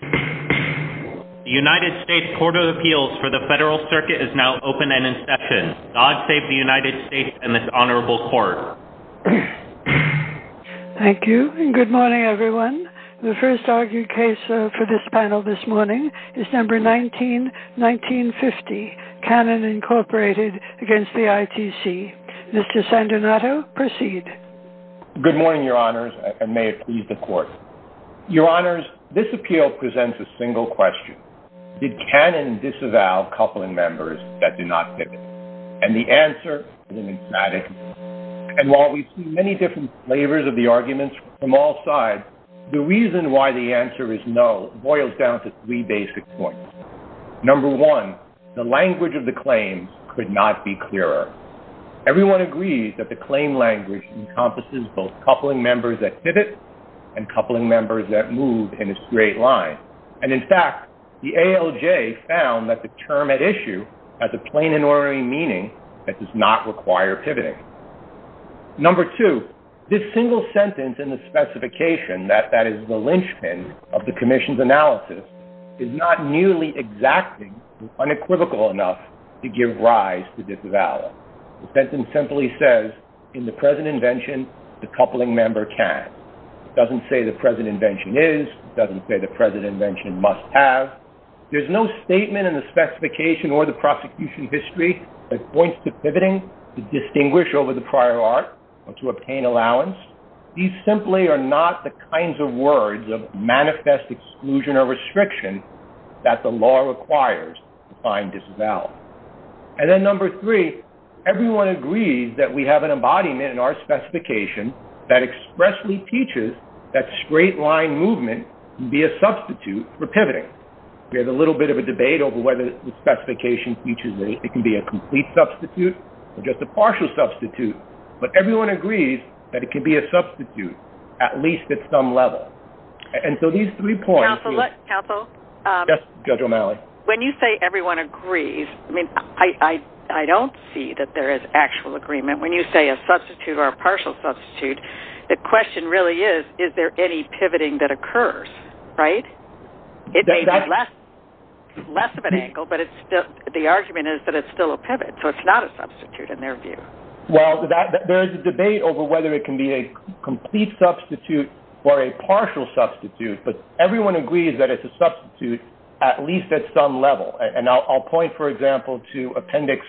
The United States Court of Appeals for the Federal Circuit is now open and in session. God save the United States and this Honorable Court. Thank you, and good morning everyone. The first argued case for this panel this morning is number 19-1950, Cannon Incorporated against the ITC. Mr. Sandonato, proceed. Good morning, Your Honors, and may it please the Court. Your Honors, this appeal presents a single question. Did Cannon disavow coupling members that do not pivot? And the answer is an emphatic no. And while we've seen many different flavors of the arguments from all sides, the reason why the answer is no boils down to three basic points. Number one, the language of the claims could not be clearer. Everyone agrees that the claim language encompasses both coupling members that pivot and coupling members that move in a straight line. And in fact, the ALJ found that the term at issue has a plain and ordinary meaning that does not require pivoting. Number two, this single sentence in the specification, that is the lynchpin of the commission's analysis, is not nearly exacting or unequivocal enough to give rise to disavowal. The sentence simply says, in the present invention, the coupling member can. It doesn't say the present invention is. It doesn't say the present invention must have. There's no statement in the specification or the prosecution history that points to pivoting, to distinguish over the prior art, or to obtain allowance. These simply are not the kinds of words of manifest exclusion or restriction that the law requires to find disavowal. And then number three, everyone agrees that we have an embodiment in our specification that expressly teaches that straight line movement can be a substitute for pivoting. There's a little bit of a debate over whether the specification teaches that it can be a complete substitute or just a partial substitute. But everyone agrees that it can be a substitute, at least at some level. And so these three points- Counsel, look- Yes, Judge O'Malley. When you say everyone agrees, I mean, I don't see that there is actual agreement. When you say a substitute or a partial substitute, the question really is, is there any pivoting that occurs, right? It may be less of an angle, but the argument is that it's still a pivot. So it's not a substitute, in their view. Well, there is a debate over whether it can be a complete substitute or a partial substitute. But everyone agrees that it's a substitute, at least at some level. And I'll point, for example, to Appendix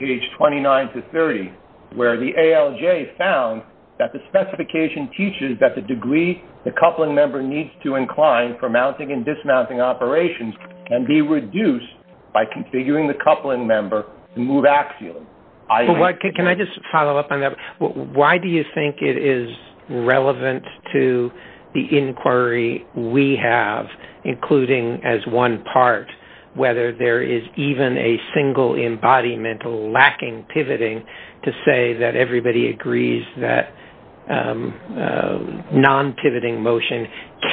29-30, where the ALJ found that the specification teaches that the degree the coupling member needs to incline for mounting and dismounting operations can be reduced by configuring the coupling member to move axially. Can I just follow up on that? Why do you think it is relevant to the inquiry we have, including as one part, whether there is even a single embodiment lacking pivoting to say that everybody agrees that non-pivoting motion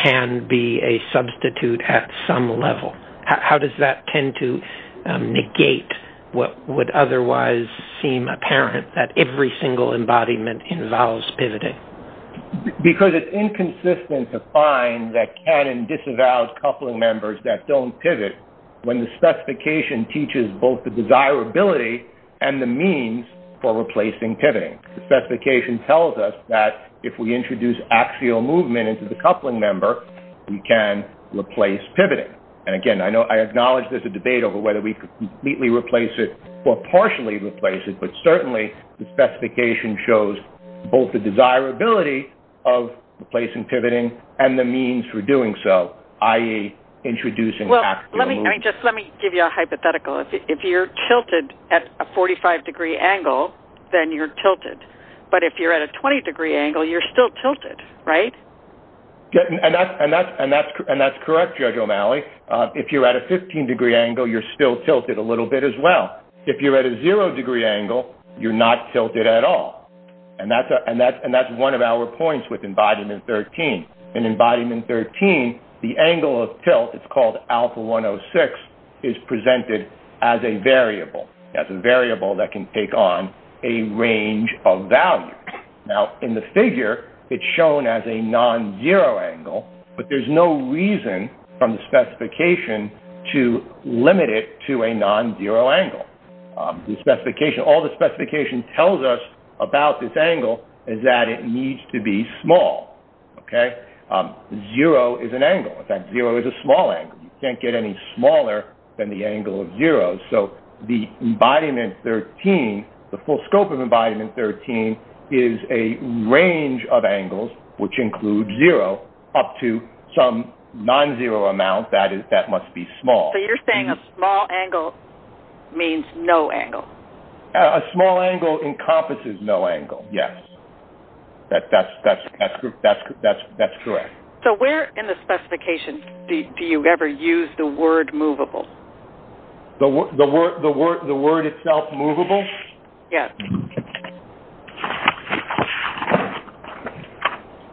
can be a substitute at some level? How does that tend to negate what would otherwise seem apparent, that every single embodiment involves pivoting? Because it's inconsistent to find that can and disavow coupling members that don't pivot when the specification teaches both the desirability and the means for replacing pivoting. The specification tells us that if we introduce axial movement into the coupling member, we can replace pivoting. And again, I acknowledge there's a debate over whether we completely replace it or partially replace it, but certainly the specification shows both the desirability of replacing pivoting and the means for doing so, i.e., introducing axial movement. Well, let me just give you a hypothetical. If you're tilted at a 45-degree angle, then you're tilted. But if you're at a 20-degree angle, you're still tilted, right? And that's correct, Judge O'Malley. If you're at a 15-degree angle, you're still tilted a little bit as well. If you're at a zero-degree angle, you're not tilted at all. And that's one of our points within Embodiment 13. In Embodiment 13, the angle of tilt, it's called alpha 106, is presented as a variable, as a variable that can take on a range of values. Now, in the figure, it's shown as a non-zero angle, but there's no reason from the specification to limit it to a non-zero angle. All the specification tells us about this angle is that it needs to be small, okay? Zero is an angle. In fact, zero is a small angle. You can't get any smaller than the angle of zero. So the Embodiment 13, the full scope of Embodiment 13, is a range of angles, which include zero, up to some non-zero amount that must be small. So you're saying a small angle means no angle? A small angle encompasses no angle, yes. That's correct. So where in the specification do you ever use the word movable? The word itself movable? Yes.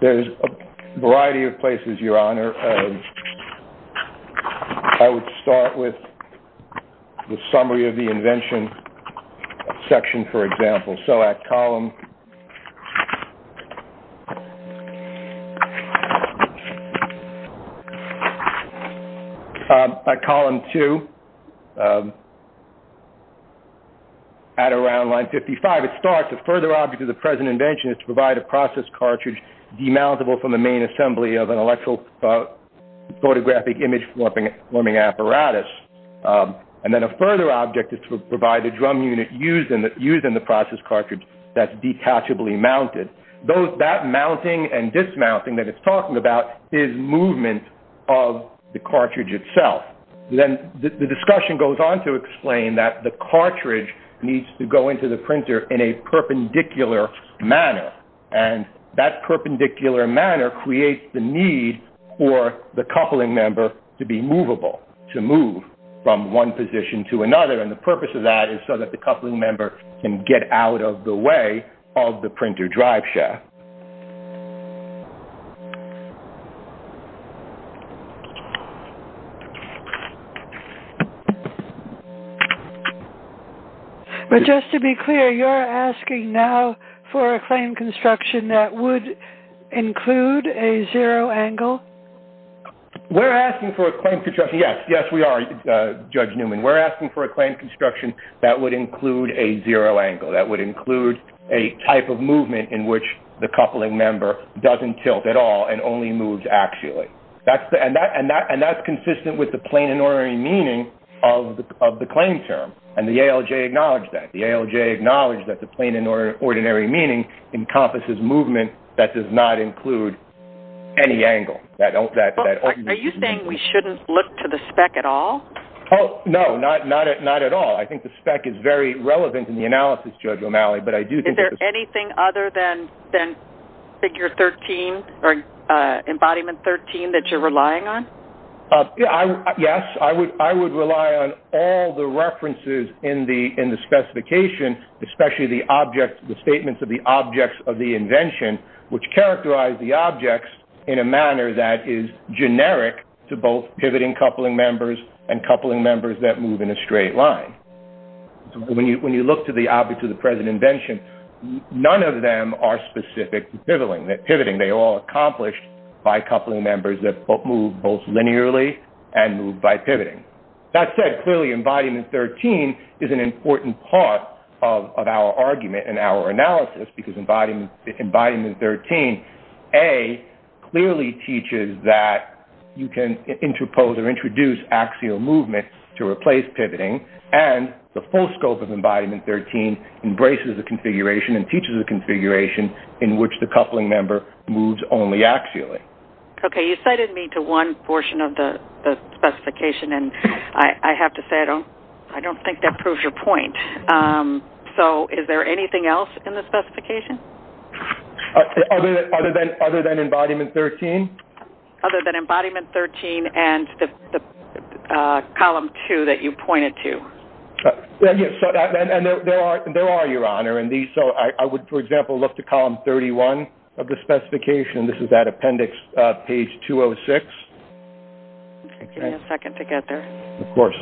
There's a variety of places, Your Honor. I would start with the summary of the invention section, for example. So at column 2, at around line 55, it starts, a further object of the present invention is to provide a process cartridge demountable from the main assembly of an electrophotographic image forming apparatus. And then a further object is to provide a drum unit used in the process cartridge that's detachably mounted. That mounting and dismounting that it's talking about is movement of the cartridge itself. Then the discussion goes on to explain that the cartridge needs to go into the printer in a perpendicular manner. And that perpendicular manner creates the need for the coupling member to be movable, to move from one position to another. And the purpose of that is so that the coupling member can get out of the way of the printer drive shaft. But just to be clear, you're asking now for a claim construction that would include a zero angle? We're asking for a claim construction, yes. Yes, we are, Judge Newman. We're asking for a claim construction that would include a zero angle, that would include a type of movement in which the cartridge is moved. The coupling member doesn't tilt at all and only moves axially. And that's consistent with the plain and ordinary meaning of the claim term. And the ALJ acknowledged that. The ALJ acknowledged that the plain and ordinary meaning encompasses movement that does not include any angle. Are you saying we shouldn't look to the spec at all? No, not at all. I think the spec is very relevant in the analysis, Judge O'Malley. Is there anything other than figure 13 or embodiment 13 that you're relying on? Yes, I would rely on all the references in the specification, especially the statements of the objects of the invention, which characterize the objects in a manner that is generic to both pivoting coupling members and coupling members that move in a straight line. When you look to the objects of the present invention, none of them are specific to pivoting. They are all accomplished by coupling members that move both linearly and move by pivoting. That said, clearly embodiment 13 is an important part of our argument and our analysis because embodiment 13, A, clearly teaches that you can interpose or introduce axial movement to replace pivoting, and the full scope of embodiment 13 embraces the configuration and teaches the configuration in which the coupling member moves only axially. Okay, you cited me to one portion of the specification, and I have to say I don't think that proves your point. So is there anything else in the specification? Other than embodiment 13? Other than embodiment 13 and the column two that you pointed to. Yes, and there are, Your Honor. So I would, for example, look to column 31 of the specification. This is that appendix, page 206. Okay, give me a second to get there. Of course.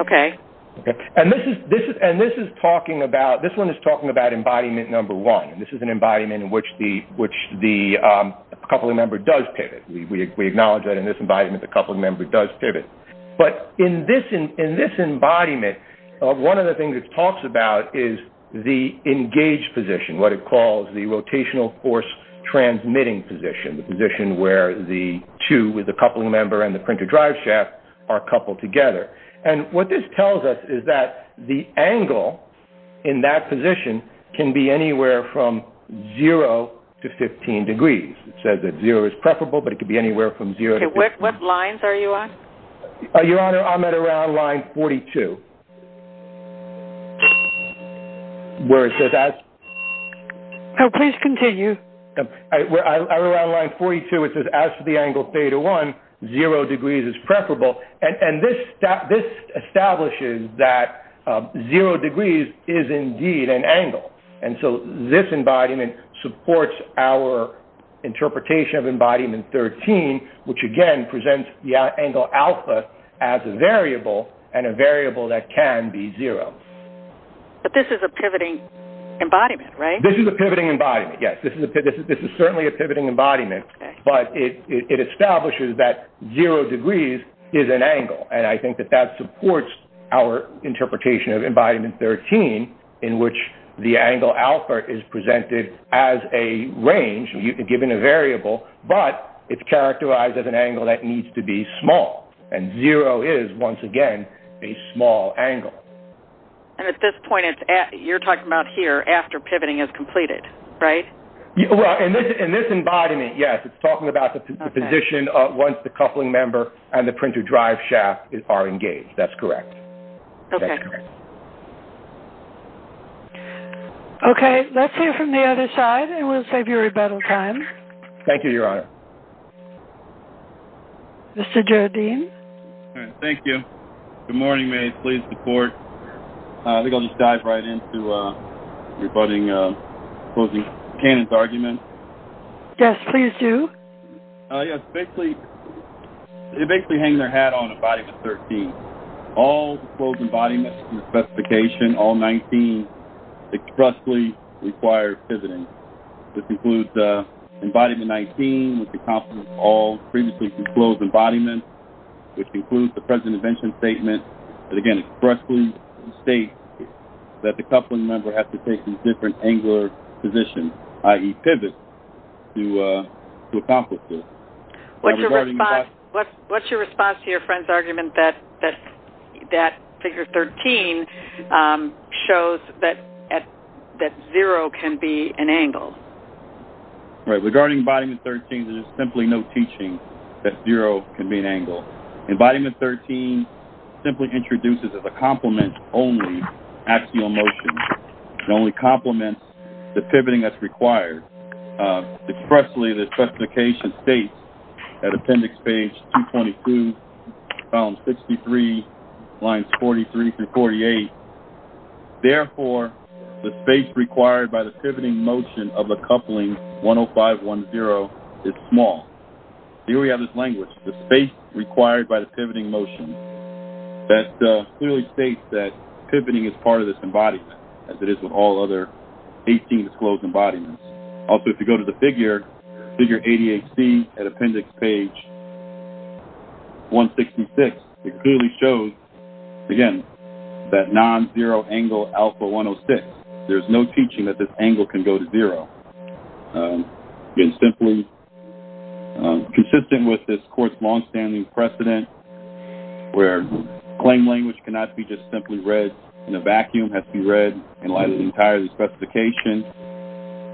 Okay. And this is talking about embodiment number one. This is an embodiment in which the coupling member does pivot. We acknowledge that in this embodiment the coupling member does pivot. But in this embodiment, one of the things it talks about is the engaged position, what it calls the rotational force transmitting position, the position where the two with the coupling member and the printer drive shaft are coupled together. And what this tells us is that the angle in that position can be anywhere from zero to 15 degrees. It says that zero is preferable, but it could be anywhere from zero to 15. Okay, what lines are you on? Your Honor, I'm at around line 42, where it says as to the angle theta one, zero degrees is preferable. And this establishes that zero degrees is indeed an angle. And so this embodiment supports our interpretation of embodiment 13, which again presents the angle alpha as a variable and a variable that can be zero. But this is a pivoting embodiment, right? This is a pivoting embodiment, yes. This is certainly a pivoting embodiment. But it establishes that zero degrees is an angle, and I think that that supports our interpretation of embodiment 13, in which the angle alpha is presented as a range, given a variable, but it's characterized as an angle that needs to be small. And zero is, once again, a small angle. And at this point, you're talking about here after pivoting is completed, right? Well, in this embodiment, yes, it's talking about the position once the coupling member and the printer drive shaft are engaged. That's correct. Okay. Okay, let's hear from the other side, and we'll save you rebuttal time. Thank you, Your Honor. Mr. Jardim? Thank you. Good morning. May I please report? I think I'll just dive right in to rebutting Closing Canon's argument. Yes, please do. Yes, basically, they basically hang their hat on embodiment 13. All disclosed embodiments in the specification, all 19, expressly require pivoting. This includes embodiment 19, which encompasses all previously disclosed embodiments, which includes the present invention statement that, again, expressly states that the coupling member has to take a different angular position, i.e., pivot, to accomplish this. What's your response to your friend's argument that figure 13 shows that zero can be an angle? Regarding embodiment 13, there's simply no teaching that zero can be an angle. Embodiment 13 simply introduces as a complement only axial motion. It only complements the pivoting that's required. Expressly, the specification states, at appendix page 222, column 63, lines 43 through 48, therefore, the space required by the pivoting motion of a coupling 10510 is small. Here we have this language, the space required by the pivoting motion, that clearly states that pivoting is part of this embodiment, as it is with all other 18 disclosed embodiments. Also, if you go to the figure, figure 88C at appendix page 166, it clearly shows, again, that non-zero angle alpha 106. There's no teaching that this angle can go to zero. Again, simply consistent with this court's longstanding precedent where claim language cannot be just simply read in a vacuum. It has to be read in line with the entire specification.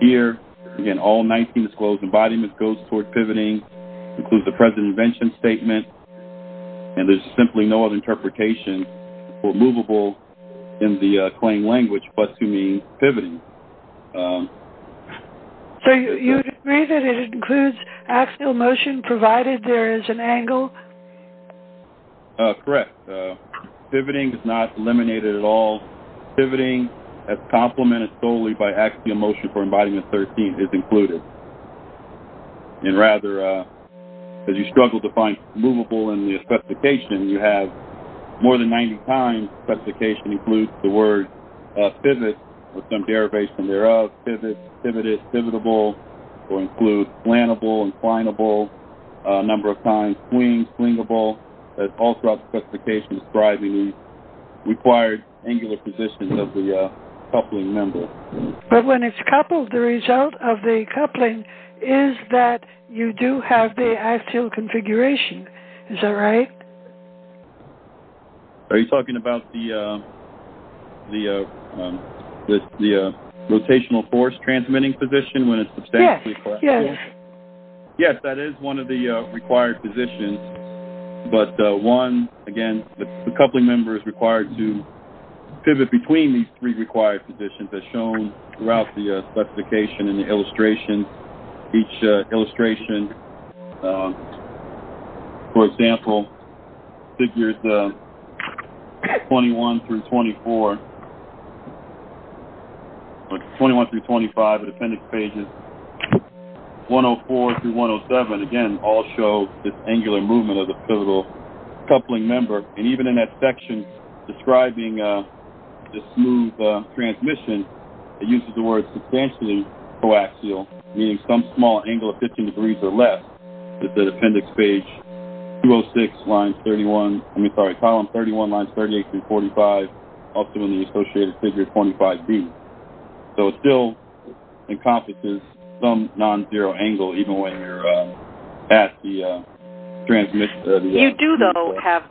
Here, again, all 19 disclosed embodiments goes toward pivoting, includes the present invention statement, and there's simply no other interpretation for movable in the claim language but to mean pivoting. So, you would agree that it includes axial motion provided there is an angle? Correct. Pivoting is not eliminated at all. Pivoting, as complemented solely by axial motion for embodiment 13, is included. And rather, as you struggle to find movable in the specification, you have more than 90 times specification includes the word pivot, with some derivation thereof, pivot, pivoted, pivotable, or includes flannable, inclinable, a number of times swing, swingable. That's also a specification describing the required angular positions of the coupling member. But when it's coupled, the result of the coupling is that you do have the axial configuration. Is that right? Are you talking about the rotational force transmitting position when it's substantially flexible? Yes, yes. Yes, that is one of the required positions, but one, again, the coupling member is required to pivot between these three required positions as shown throughout the specification and the illustration. Each illustration, for example, figures 21 through 24, 21 through 25 of the appendix pages, 104 through 107, again, all show this angular movement of the pivotal coupling member. And even in that section describing the smooth transmission, it uses the word substantially coaxial, meaning some small angle of 15 degrees or less. It's at appendix page 206, column 31, lines 38 through 45, also in the associated figure 25D. So it still encompasses some non-zero angle, even when you're at the transmission. You do, though, have,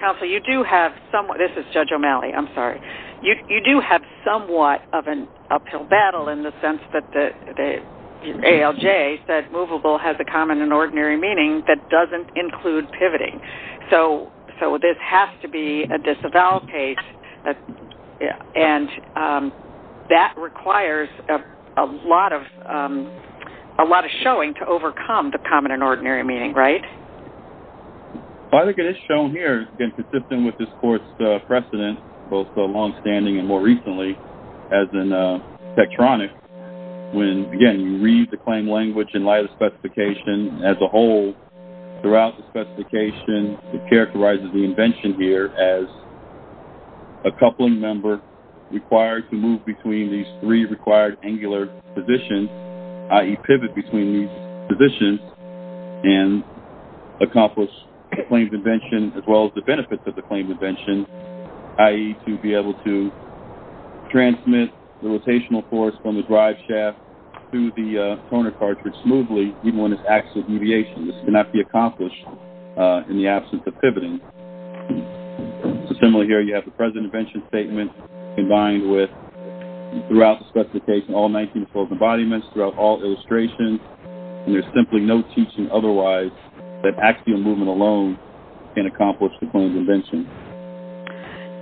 counsel, you do have somewhat, this is Judge O'Malley, I'm sorry. You do have somewhat of an uphill battle in the sense that ALJ said movable has a common and ordinary meaning that doesn't include pivoting. So this has to be a disavowal case, and that requires a lot of showing to overcome the common and ordinary meaning, right? I think it is shown here, again, consistent with this court's precedent, both the longstanding and more recently, as in Tektronix. When, again, you read the claim language in light of the specification as a whole, throughout the specification it characterizes the invention here as a coupling member required to move between these three required angular positions, i.e., pivot between these positions, and accomplish the claimed invention as well as the benefits of the claimed invention, i.e., to be able to transmit the rotational force from the drive shaft to the toner cartridge smoothly even when it's axial deviation. This cannot be accomplished in the absence of pivoting. Similarly here, you have the present invention statement combined with, throughout the specification, all 19 enclosed embodiments, throughout all illustrations, and there's simply no teaching otherwise that axial movement alone can accomplish the claimed invention.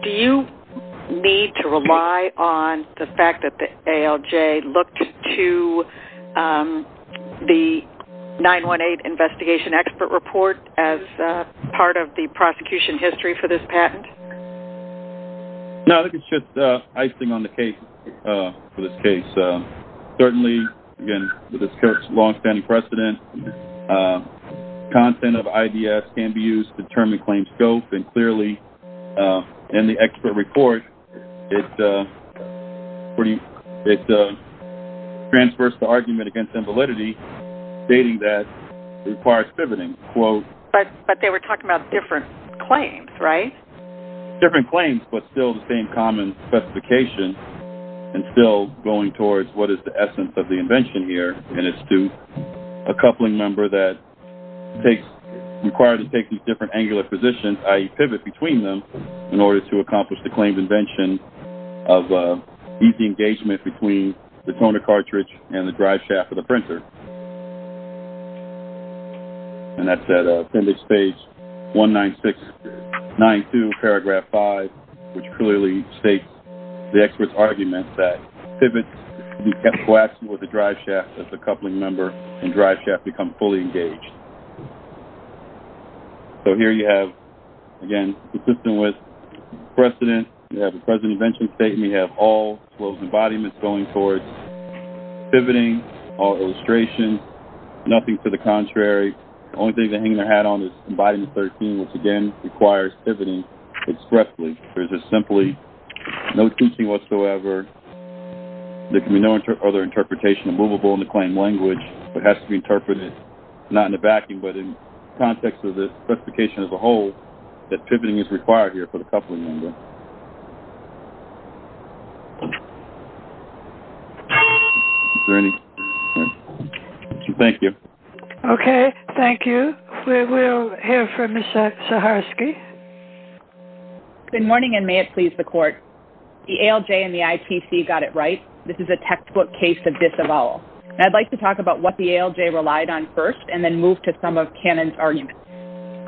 Do you need to rely on the fact that the ALJ looked to the 918 Investigation Expert Report as part of the prosecution history for this patent? No, I think it's just icing on the cake for this case. Certainly, again, with this court's longstanding precedent, content of IDS can be used to determine claim scope, and clearly in the expert report it transfers the argument against invalidity, stating that it requires pivoting. But they were talking about different claims, right? Different claims, but still the same common specification, and still going towards what is the essence of the invention here, and it's to a coupling member that's required to take these different angular positions, i.e., pivot between them, in order to accomplish the claimed invention of easy engagement between the toner cartridge and the driveshaft of the printer. And that's at appendix page 19692, paragraph 5, which clearly states the expert's argument that pivots should be kept coaxial with the driveshaft as the coupling member and driveshaft become fully engaged. So here you have, again, consistent with precedent, you have a present invention statement, and then we have all those embodiments going towards pivoting, all illustrations, nothing to the contrary. The only thing they're hanging their hat on is embodiment 13, which again requires pivoting expressly. There's just simply no teaching whatsoever. There can be no other interpretation of movable in the claim language. It has to be interpreted not in the backing, but in context of the specification as a whole, that pivoting is required here for the coupling member. Is there any? Thank you. Okay, thank you. We will hear from Ms. Saharsky. Good morning, and may it please the Court. The ALJ and the ITC got it right. This is a textbook case of disavowal. I'd like to talk about what the ALJ relied on first and then move to some of Cannon's arguments.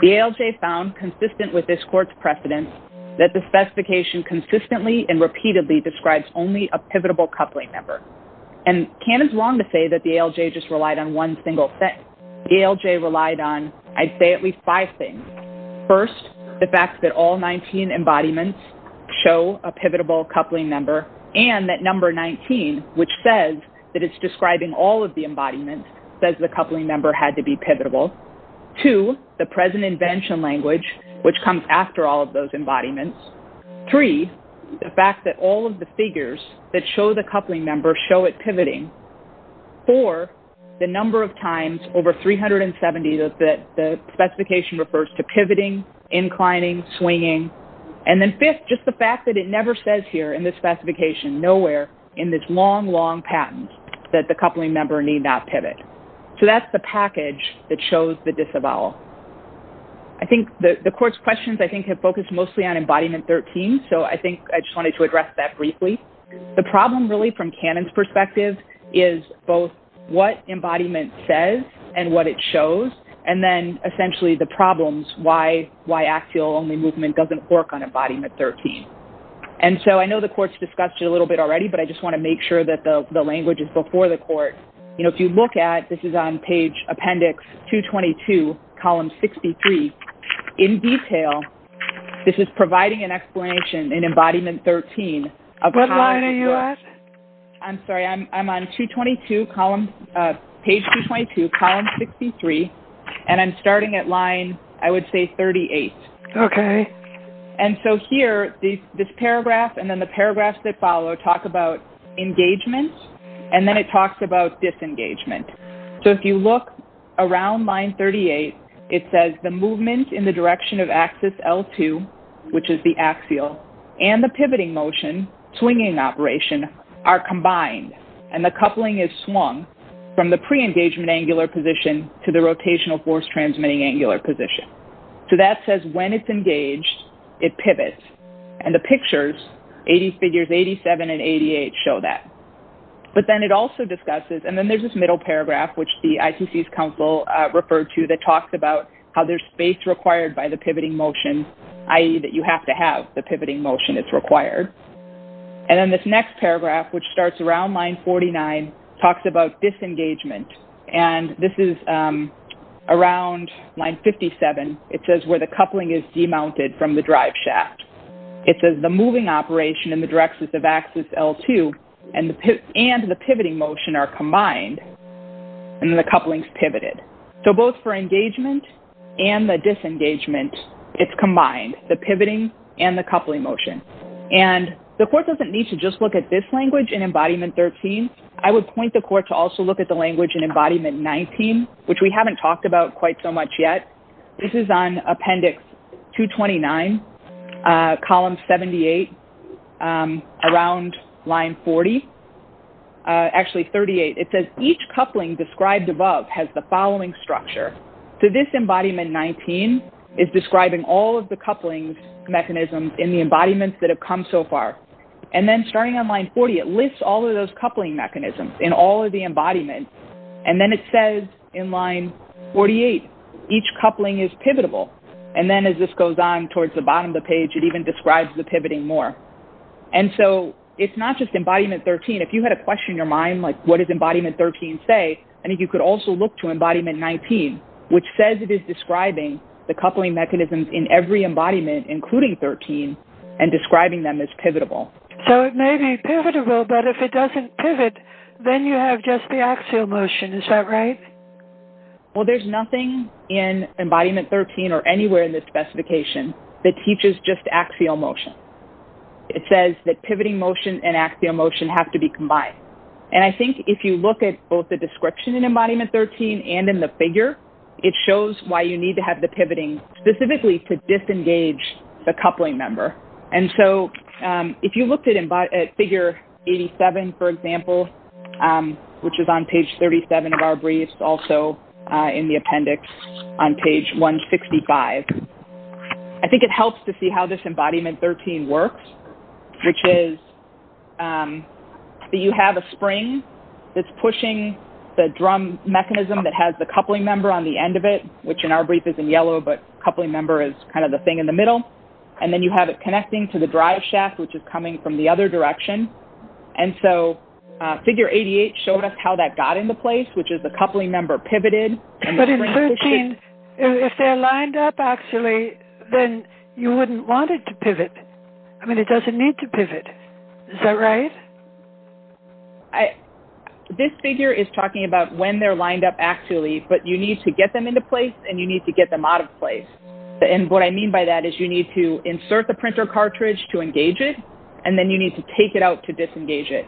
The ALJ found, consistent with this Court's precedent, that the specification consistently and repeatedly describes only a pivotal coupling member. And Cannon's wrong to say that the ALJ just relied on one single thing. The ALJ relied on, I'd say, at least five things. First, the fact that all 19 embodiments show a pivotal coupling member, and that number 19, which says that it's describing all of the embodiments, says the coupling member had to be pivotal. Two, the present invention language, which comes after all of those embodiments. Three, the fact that all of the figures that show the coupling member show it pivoting. Four, the number of times over 370 that the specification refers to pivoting, inclining, swinging. And then fifth, just the fact that it never says here in this specification, nowhere, in this long, long patent, that the coupling member need not pivot. So that's the package that shows the disavowal. I think the Court's questions, I think, have focused mostly on embodiment 13, so I think I just wanted to address that briefly. The problem, really, from Cannon's perspective, is both what embodiment says and what it shows, and then, essentially, the problems, why axial-only movement doesn't work on embodiment 13. And so I know the Court's discussed it a little bit already, but I just want to make sure that the language is before the Court. You know, if you look at, this is on page appendix 222, column 63, in detail, this is providing an explanation in embodiment 13. What line are you at? I'm sorry, I'm on page 222, column 63, and I'm starting at line, I would say, 38. Okay. And so here, this paragraph and then the paragraphs that follow talk about engagement, and then it talks about disengagement. So if you look around line 38, it says, the movement in the direction of axis L2, which is the axial, and the pivoting motion, swinging operation, are combined, and the coupling is swung from the pre-engagement angular position to the rotational force transmitting angular position. So that says when it's engaged, it pivots, and the pictures, figures 87 and 88, show that. But then it also discusses, and then there's this middle paragraph, which the ICC's counsel referred to, that talks about how there's space required by the pivoting motion, i.e., that you have to have the pivoting motion that's required. And then this next paragraph, which starts around line 49, talks about disengagement, and this is around line 57. It says where the coupling is demounted from the driveshaft. It says the moving operation in the direction of axis L2 and the pivoting motion are combined, and then the coupling's pivoted. So both for engagement and the disengagement, it's combined, the pivoting and the coupling motion. And the court doesn't need to just look at this language in Embodiment 13. I would point the court to also look at the language in Embodiment 19, which we haven't talked about quite so much yet. This is on Appendix 229, Column 78, around line 40. Actually, 38. It says each coupling described above has the following structure. So this Embodiment 19 is describing all of the couplings mechanisms in the embodiments that have come so far. And then starting on line 40, it lists all of those coupling mechanisms in all of the embodiments. And then it says in line 48, each coupling is pivotable. And then as this goes on towards the bottom of the page, it even describes the pivoting more. And so it's not just Embodiment 13. If you had a question in your mind, like, what does Embodiment 13 say, I think you could also look to Embodiment 19, which says it is describing the coupling mechanisms in every embodiment, including 13, and describing them as pivotable. So it may be pivotable, but if it doesn't pivot, then you have just the axial motion. Is that right? Well, there's nothing in Embodiment 13 or anywhere in the specification that teaches just axial motion. It says that pivoting motion and axial motion have to be combined. And I think if you look at both the description in Embodiment 13 and in the figure, it shows why you need to have the pivoting specifically to disengage the coupling member. And so if you looked at figure 87, for example, which is on page 37 of our brief, also in the appendix on page 165, I think it helps to see how this Embodiment 13 works, which is that you have a spring that's pushing the drum mechanism that has the coupling member on the end of it, which in our brief is in yellow, but coupling member is kind of the thing in the middle. And then you have it connecting to the drive shaft, which is coming from the other direction. And so figure 88 showed us how that got into place, which is the coupling member pivoted. But in 13, if they're lined up actually, then you wouldn't want it to pivot. I mean, it doesn't need to pivot. Is that right? This figure is talking about when they're lined up actually, but you need to get them into place and you need to get them out of place. And what I mean by that is you need to insert the printer cartridge to engage it, and then you need to take it out to disengage it.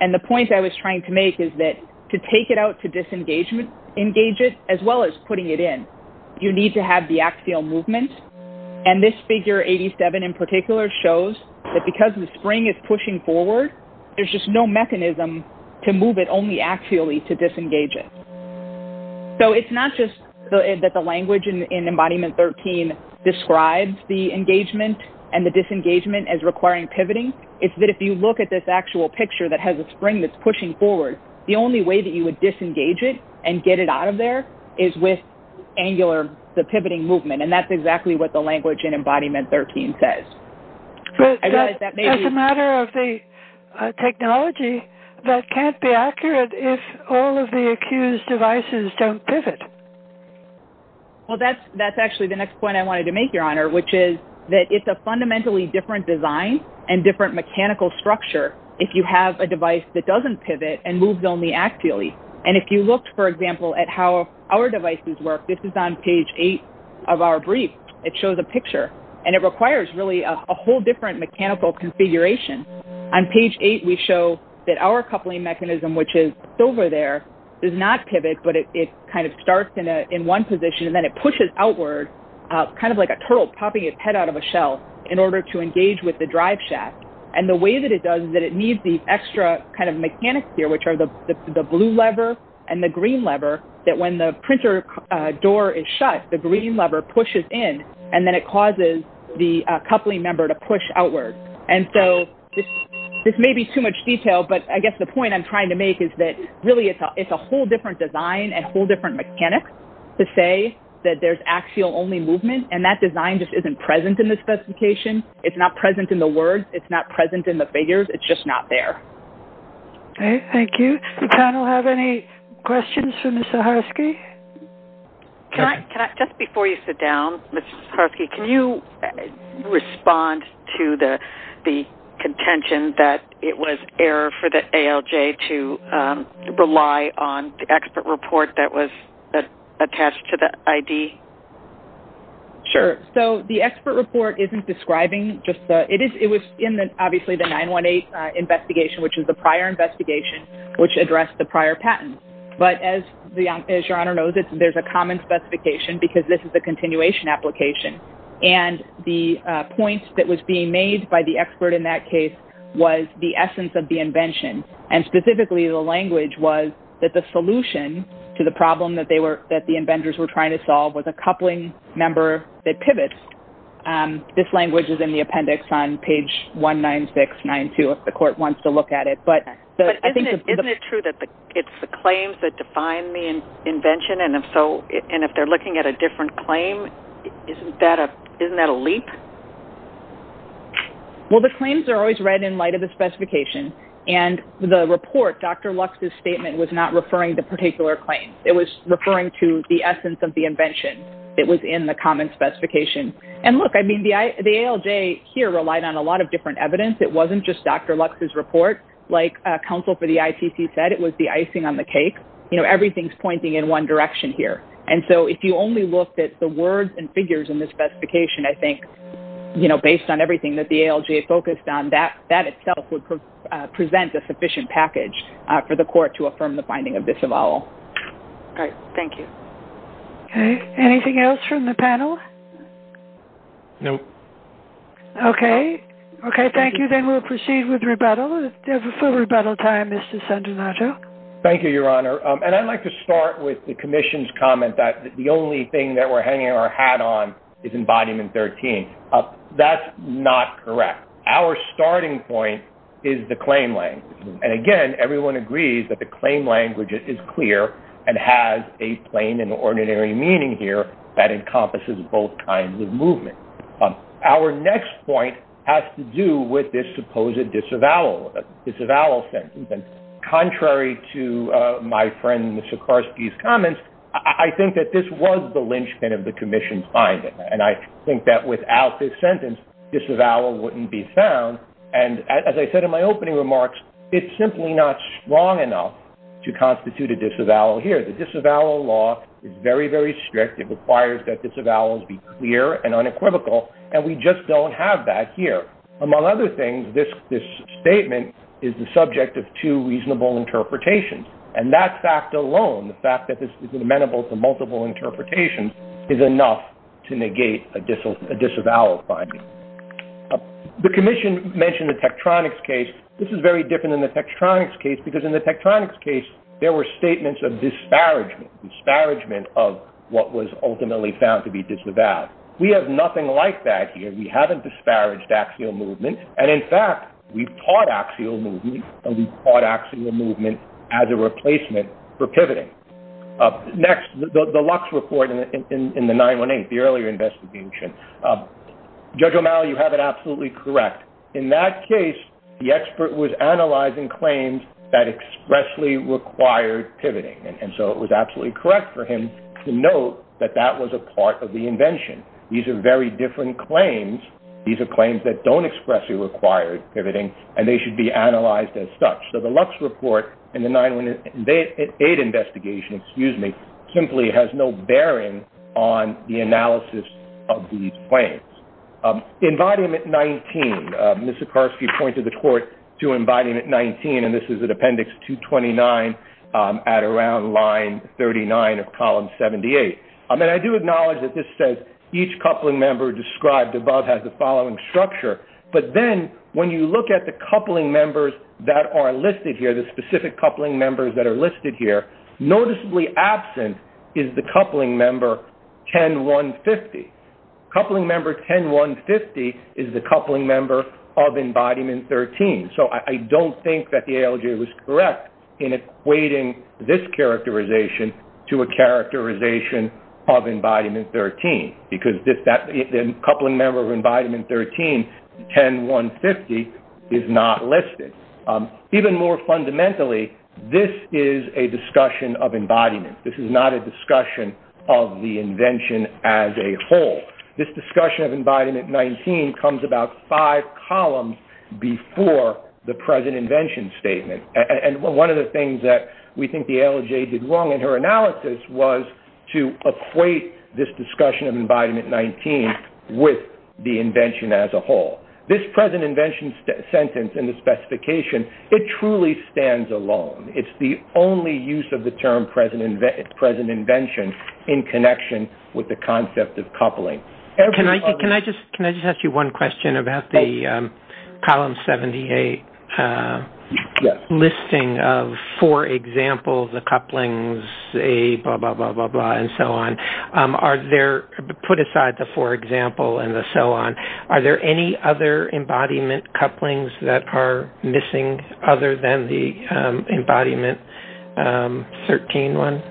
And the point I was trying to make is that to take it out to disengage it as well as putting it in, you need to have the axial movement. And this figure 87 in particular shows that because the spring is pushing forward, there's just no mechanism to move it only axially to disengage it. So it's not just that the language in Embodiment 13 describes the engagement and the disengagement as requiring pivoting. It's that if you look at this actual picture that has a spring that's pushing forward, the only way that you would disengage it and get it out of there is with angular, the pivoting movement, and that's exactly what the language in Embodiment 13 says. As a matter of the technology, that can't be accurate if all of the accused devices don't pivot. Well, that's actually the next point I wanted to make, Your Honor, which is that it's a fundamentally different design and different mechanical structure if you have a device that doesn't pivot and moves only axially. And if you looked, for example, at how our devices work, this is on page 8 of our brief. It shows a picture, and it requires really a whole different mechanical configuration. On page 8, we show that our coupling mechanism, which is over there, does not pivot, but it kind of starts in one position, and then it pushes outward, kind of like a turtle popping its head out of a shell in order to engage with the drive shaft. And the way that it does is that it needs the extra kind of mechanics here, which are the blue lever and the green lever, that when the printer door is shut, the green lever pushes in, and then it causes the coupling member to push outward. And so this may be too much detail, but I guess the point I'm trying to make is that really it's a whole different design and a whole different mechanic to say that there's axial-only movement, and that design just isn't present in the specification. It's not present in the words. It's not present in the figures. It's just not there. Okay, thank you. Does the panel have any questions for Ms. Zaharsky? Just before you sit down, Ms. Zaharsky, can you respond to the contention that it was error for the ALJ to rely on the expert report that was attached to the ID? Sure. So the expert report isn't describing just the – it was in, obviously, the 918 investigation, which is the prior investigation, which addressed the prior patent. But as Your Honor knows, there's a common specification because this is a continuation application. And the point that was being made by the expert in that case was the essence of the invention, and specifically the language was that the solution to the problem that the inventors were trying to solve was a coupling member that pivots. This language is in the appendix on page 19692 if the court wants to look at it. But isn't it true that it's the claims that define the invention, and if they're looking at a different claim, isn't that a leap? Well, the claims are always read in light of the specification. And the report, Dr. Lux's statement, was not referring to particular claims. It was referring to the essence of the invention. It was in the common specification. And look, I mean, the ALJ here relied on a lot of different evidence. It wasn't just Dr. Lux's report. You know, everything's pointing in one direction here. And so if you only looked at the words and figures in the specification, I think, you know, based on everything that the ALJ focused on, that itself would present a sufficient package for the court to affirm the finding of this avowal. All right. Thank you. Okay. Anything else from the panel? Okay. Okay, thank you. Then we'll proceed with rebuttal. We have a full rebuttal time, Mr. Sandinaggio. Thank you, Your Honor. And I'd like to start with the commission's comment that the only thing that we're hanging our hat on is Embodiment 13. That's not correct. Our starting point is the claim language. And, again, everyone agrees that the claim language is clear and has a plain and ordinary meaning here that encompasses both kinds of movement. Our next point has to do with this supposed disavowal sentence. Contrary to my friend Sikorski's comments, I think that this was the linchpin of the commission's finding. And I think that without this sentence, disavowal wouldn't be found. And as I said in my opening remarks, it's simply not strong enough to constitute a disavowal here. The disavowal law is very, very strict. It requires that disavowals be clear and unequivocal, and we just don't have that here. Among other things, this statement is the subject of two reasonable interpretations. And that fact alone, the fact that this is amenable to multiple interpretations, is enough to negate a disavowal finding. The commission mentioned the Tektronix case. This is very different than the Tektronix case, because in the Tektronix case there were statements of disparagement, of what was ultimately found to be disavowed. We have nothing like that here. We haven't disparaged axial movement. And in fact, we've taught axial movement, and we've taught axial movement as a replacement for pivoting. Next, the Lux report in the 918, the earlier investigation. Judge O'Malley, you have it absolutely correct. In that case, the expert was analyzing claims that expressly required pivoting. And so it was absolutely correct for him to note that that was a part of the invention. These are very different claims. These are claims that don't expressly require pivoting, and they should be analyzed as such. So the Lux report in the 918 investigation, excuse me, simply has no bearing on the analysis of these claims. In Volume 19, Ms. Sikorsky pointed the court to in Volume 19, and this is in Appendix 229 at around line 39 of Column 78. And I do acknowledge that this says, each coupling member described above has the following structure. But then when you look at the coupling members that are listed here, the specific coupling members that are listed here, noticeably absent is the coupling member 10150. Coupling member 10150 is the coupling member of Embodiment 13. So I don't think that the ALJ was correct in equating this characterization to a characterization of Embodiment 13, because the coupling member of Embodiment 13, 10150, is not listed. Even more fundamentally, this is a discussion of embodiment. This is not a discussion of the invention as a whole. This discussion of embodiment 19 comes about five columns before the present invention statement. And one of the things that we think the ALJ did wrong in her analysis was to equate this discussion of embodiment 19 with the invention as a whole. This present invention sentence in the specification, it truly stands alone. It's the only use of the term present invention in connection with the concept of coupling. Can I just ask you one question about the column 78 listing of, for example, the couplings A, blah, blah, blah, blah, blah, and so on. Put aside the for example and the so on, are there any other embodiment couplings that are missing other than the Embodiment 13 one?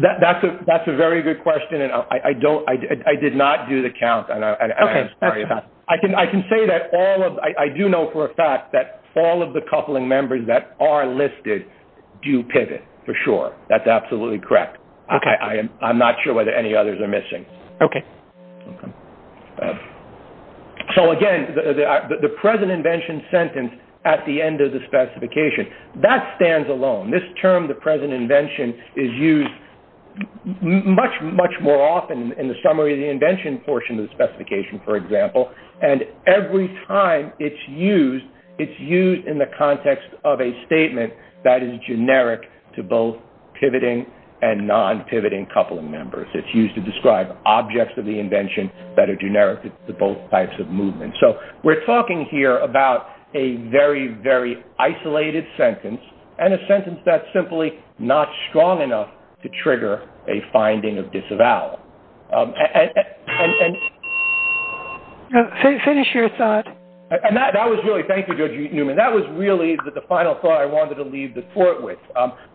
That's a very good question, and I did not do the count. Okay. I can say that I do know for a fact that all of the coupling members that are listed do pivot for sure. That's absolutely correct. I'm not sure whether any others are missing. Okay. So, again, the present invention sentence at the end of the specification, that stands alone. This term, the present invention, is used much, much more often in the summary of the invention portion of the specification, for example, and every time it's used, it's used in the context of a statement that is generic to both pivoting and non-pivoting coupling members. It's used to describe objects of the invention that are generic to both types of movement. So we're talking here about a very, very isolated sentence and a sentence that's simply not strong enough to trigger a finding of disavowal. Finish your thought. Thank you, Judge Newman. That was really the final thought I wanted to leave the court with.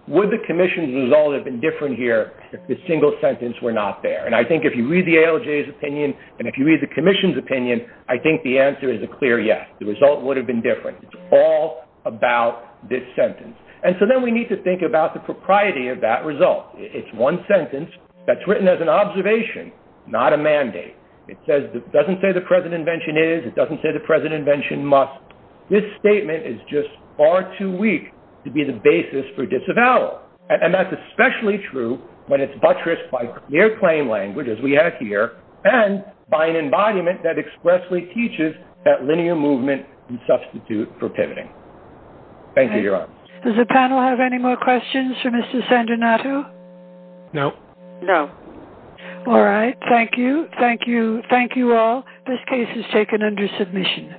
Would the commission's result have been different here if the single sentence were not there? And I think if you read the ALJ's opinion and if you read the commission's opinion, I think the answer is a clear yes. The result would have been different. It's all about this sentence. And so then we need to think about the propriety of that result. It's one sentence that's written as an observation, not a mandate. It doesn't say the present invention is. It doesn't say the present invention must. This statement is just far too weak to be the basis for disavowal, and that's especially true when it's buttressed by clear claim language, as we have here, and by an embodiment that expressly teaches that linear movement can substitute for pivoting. Thank you, Your Honor. Does the panel have any more questions for Mr. Sandinato? No. No. All right. Thank you. Thank you. Thank you all. This case is taken under submission.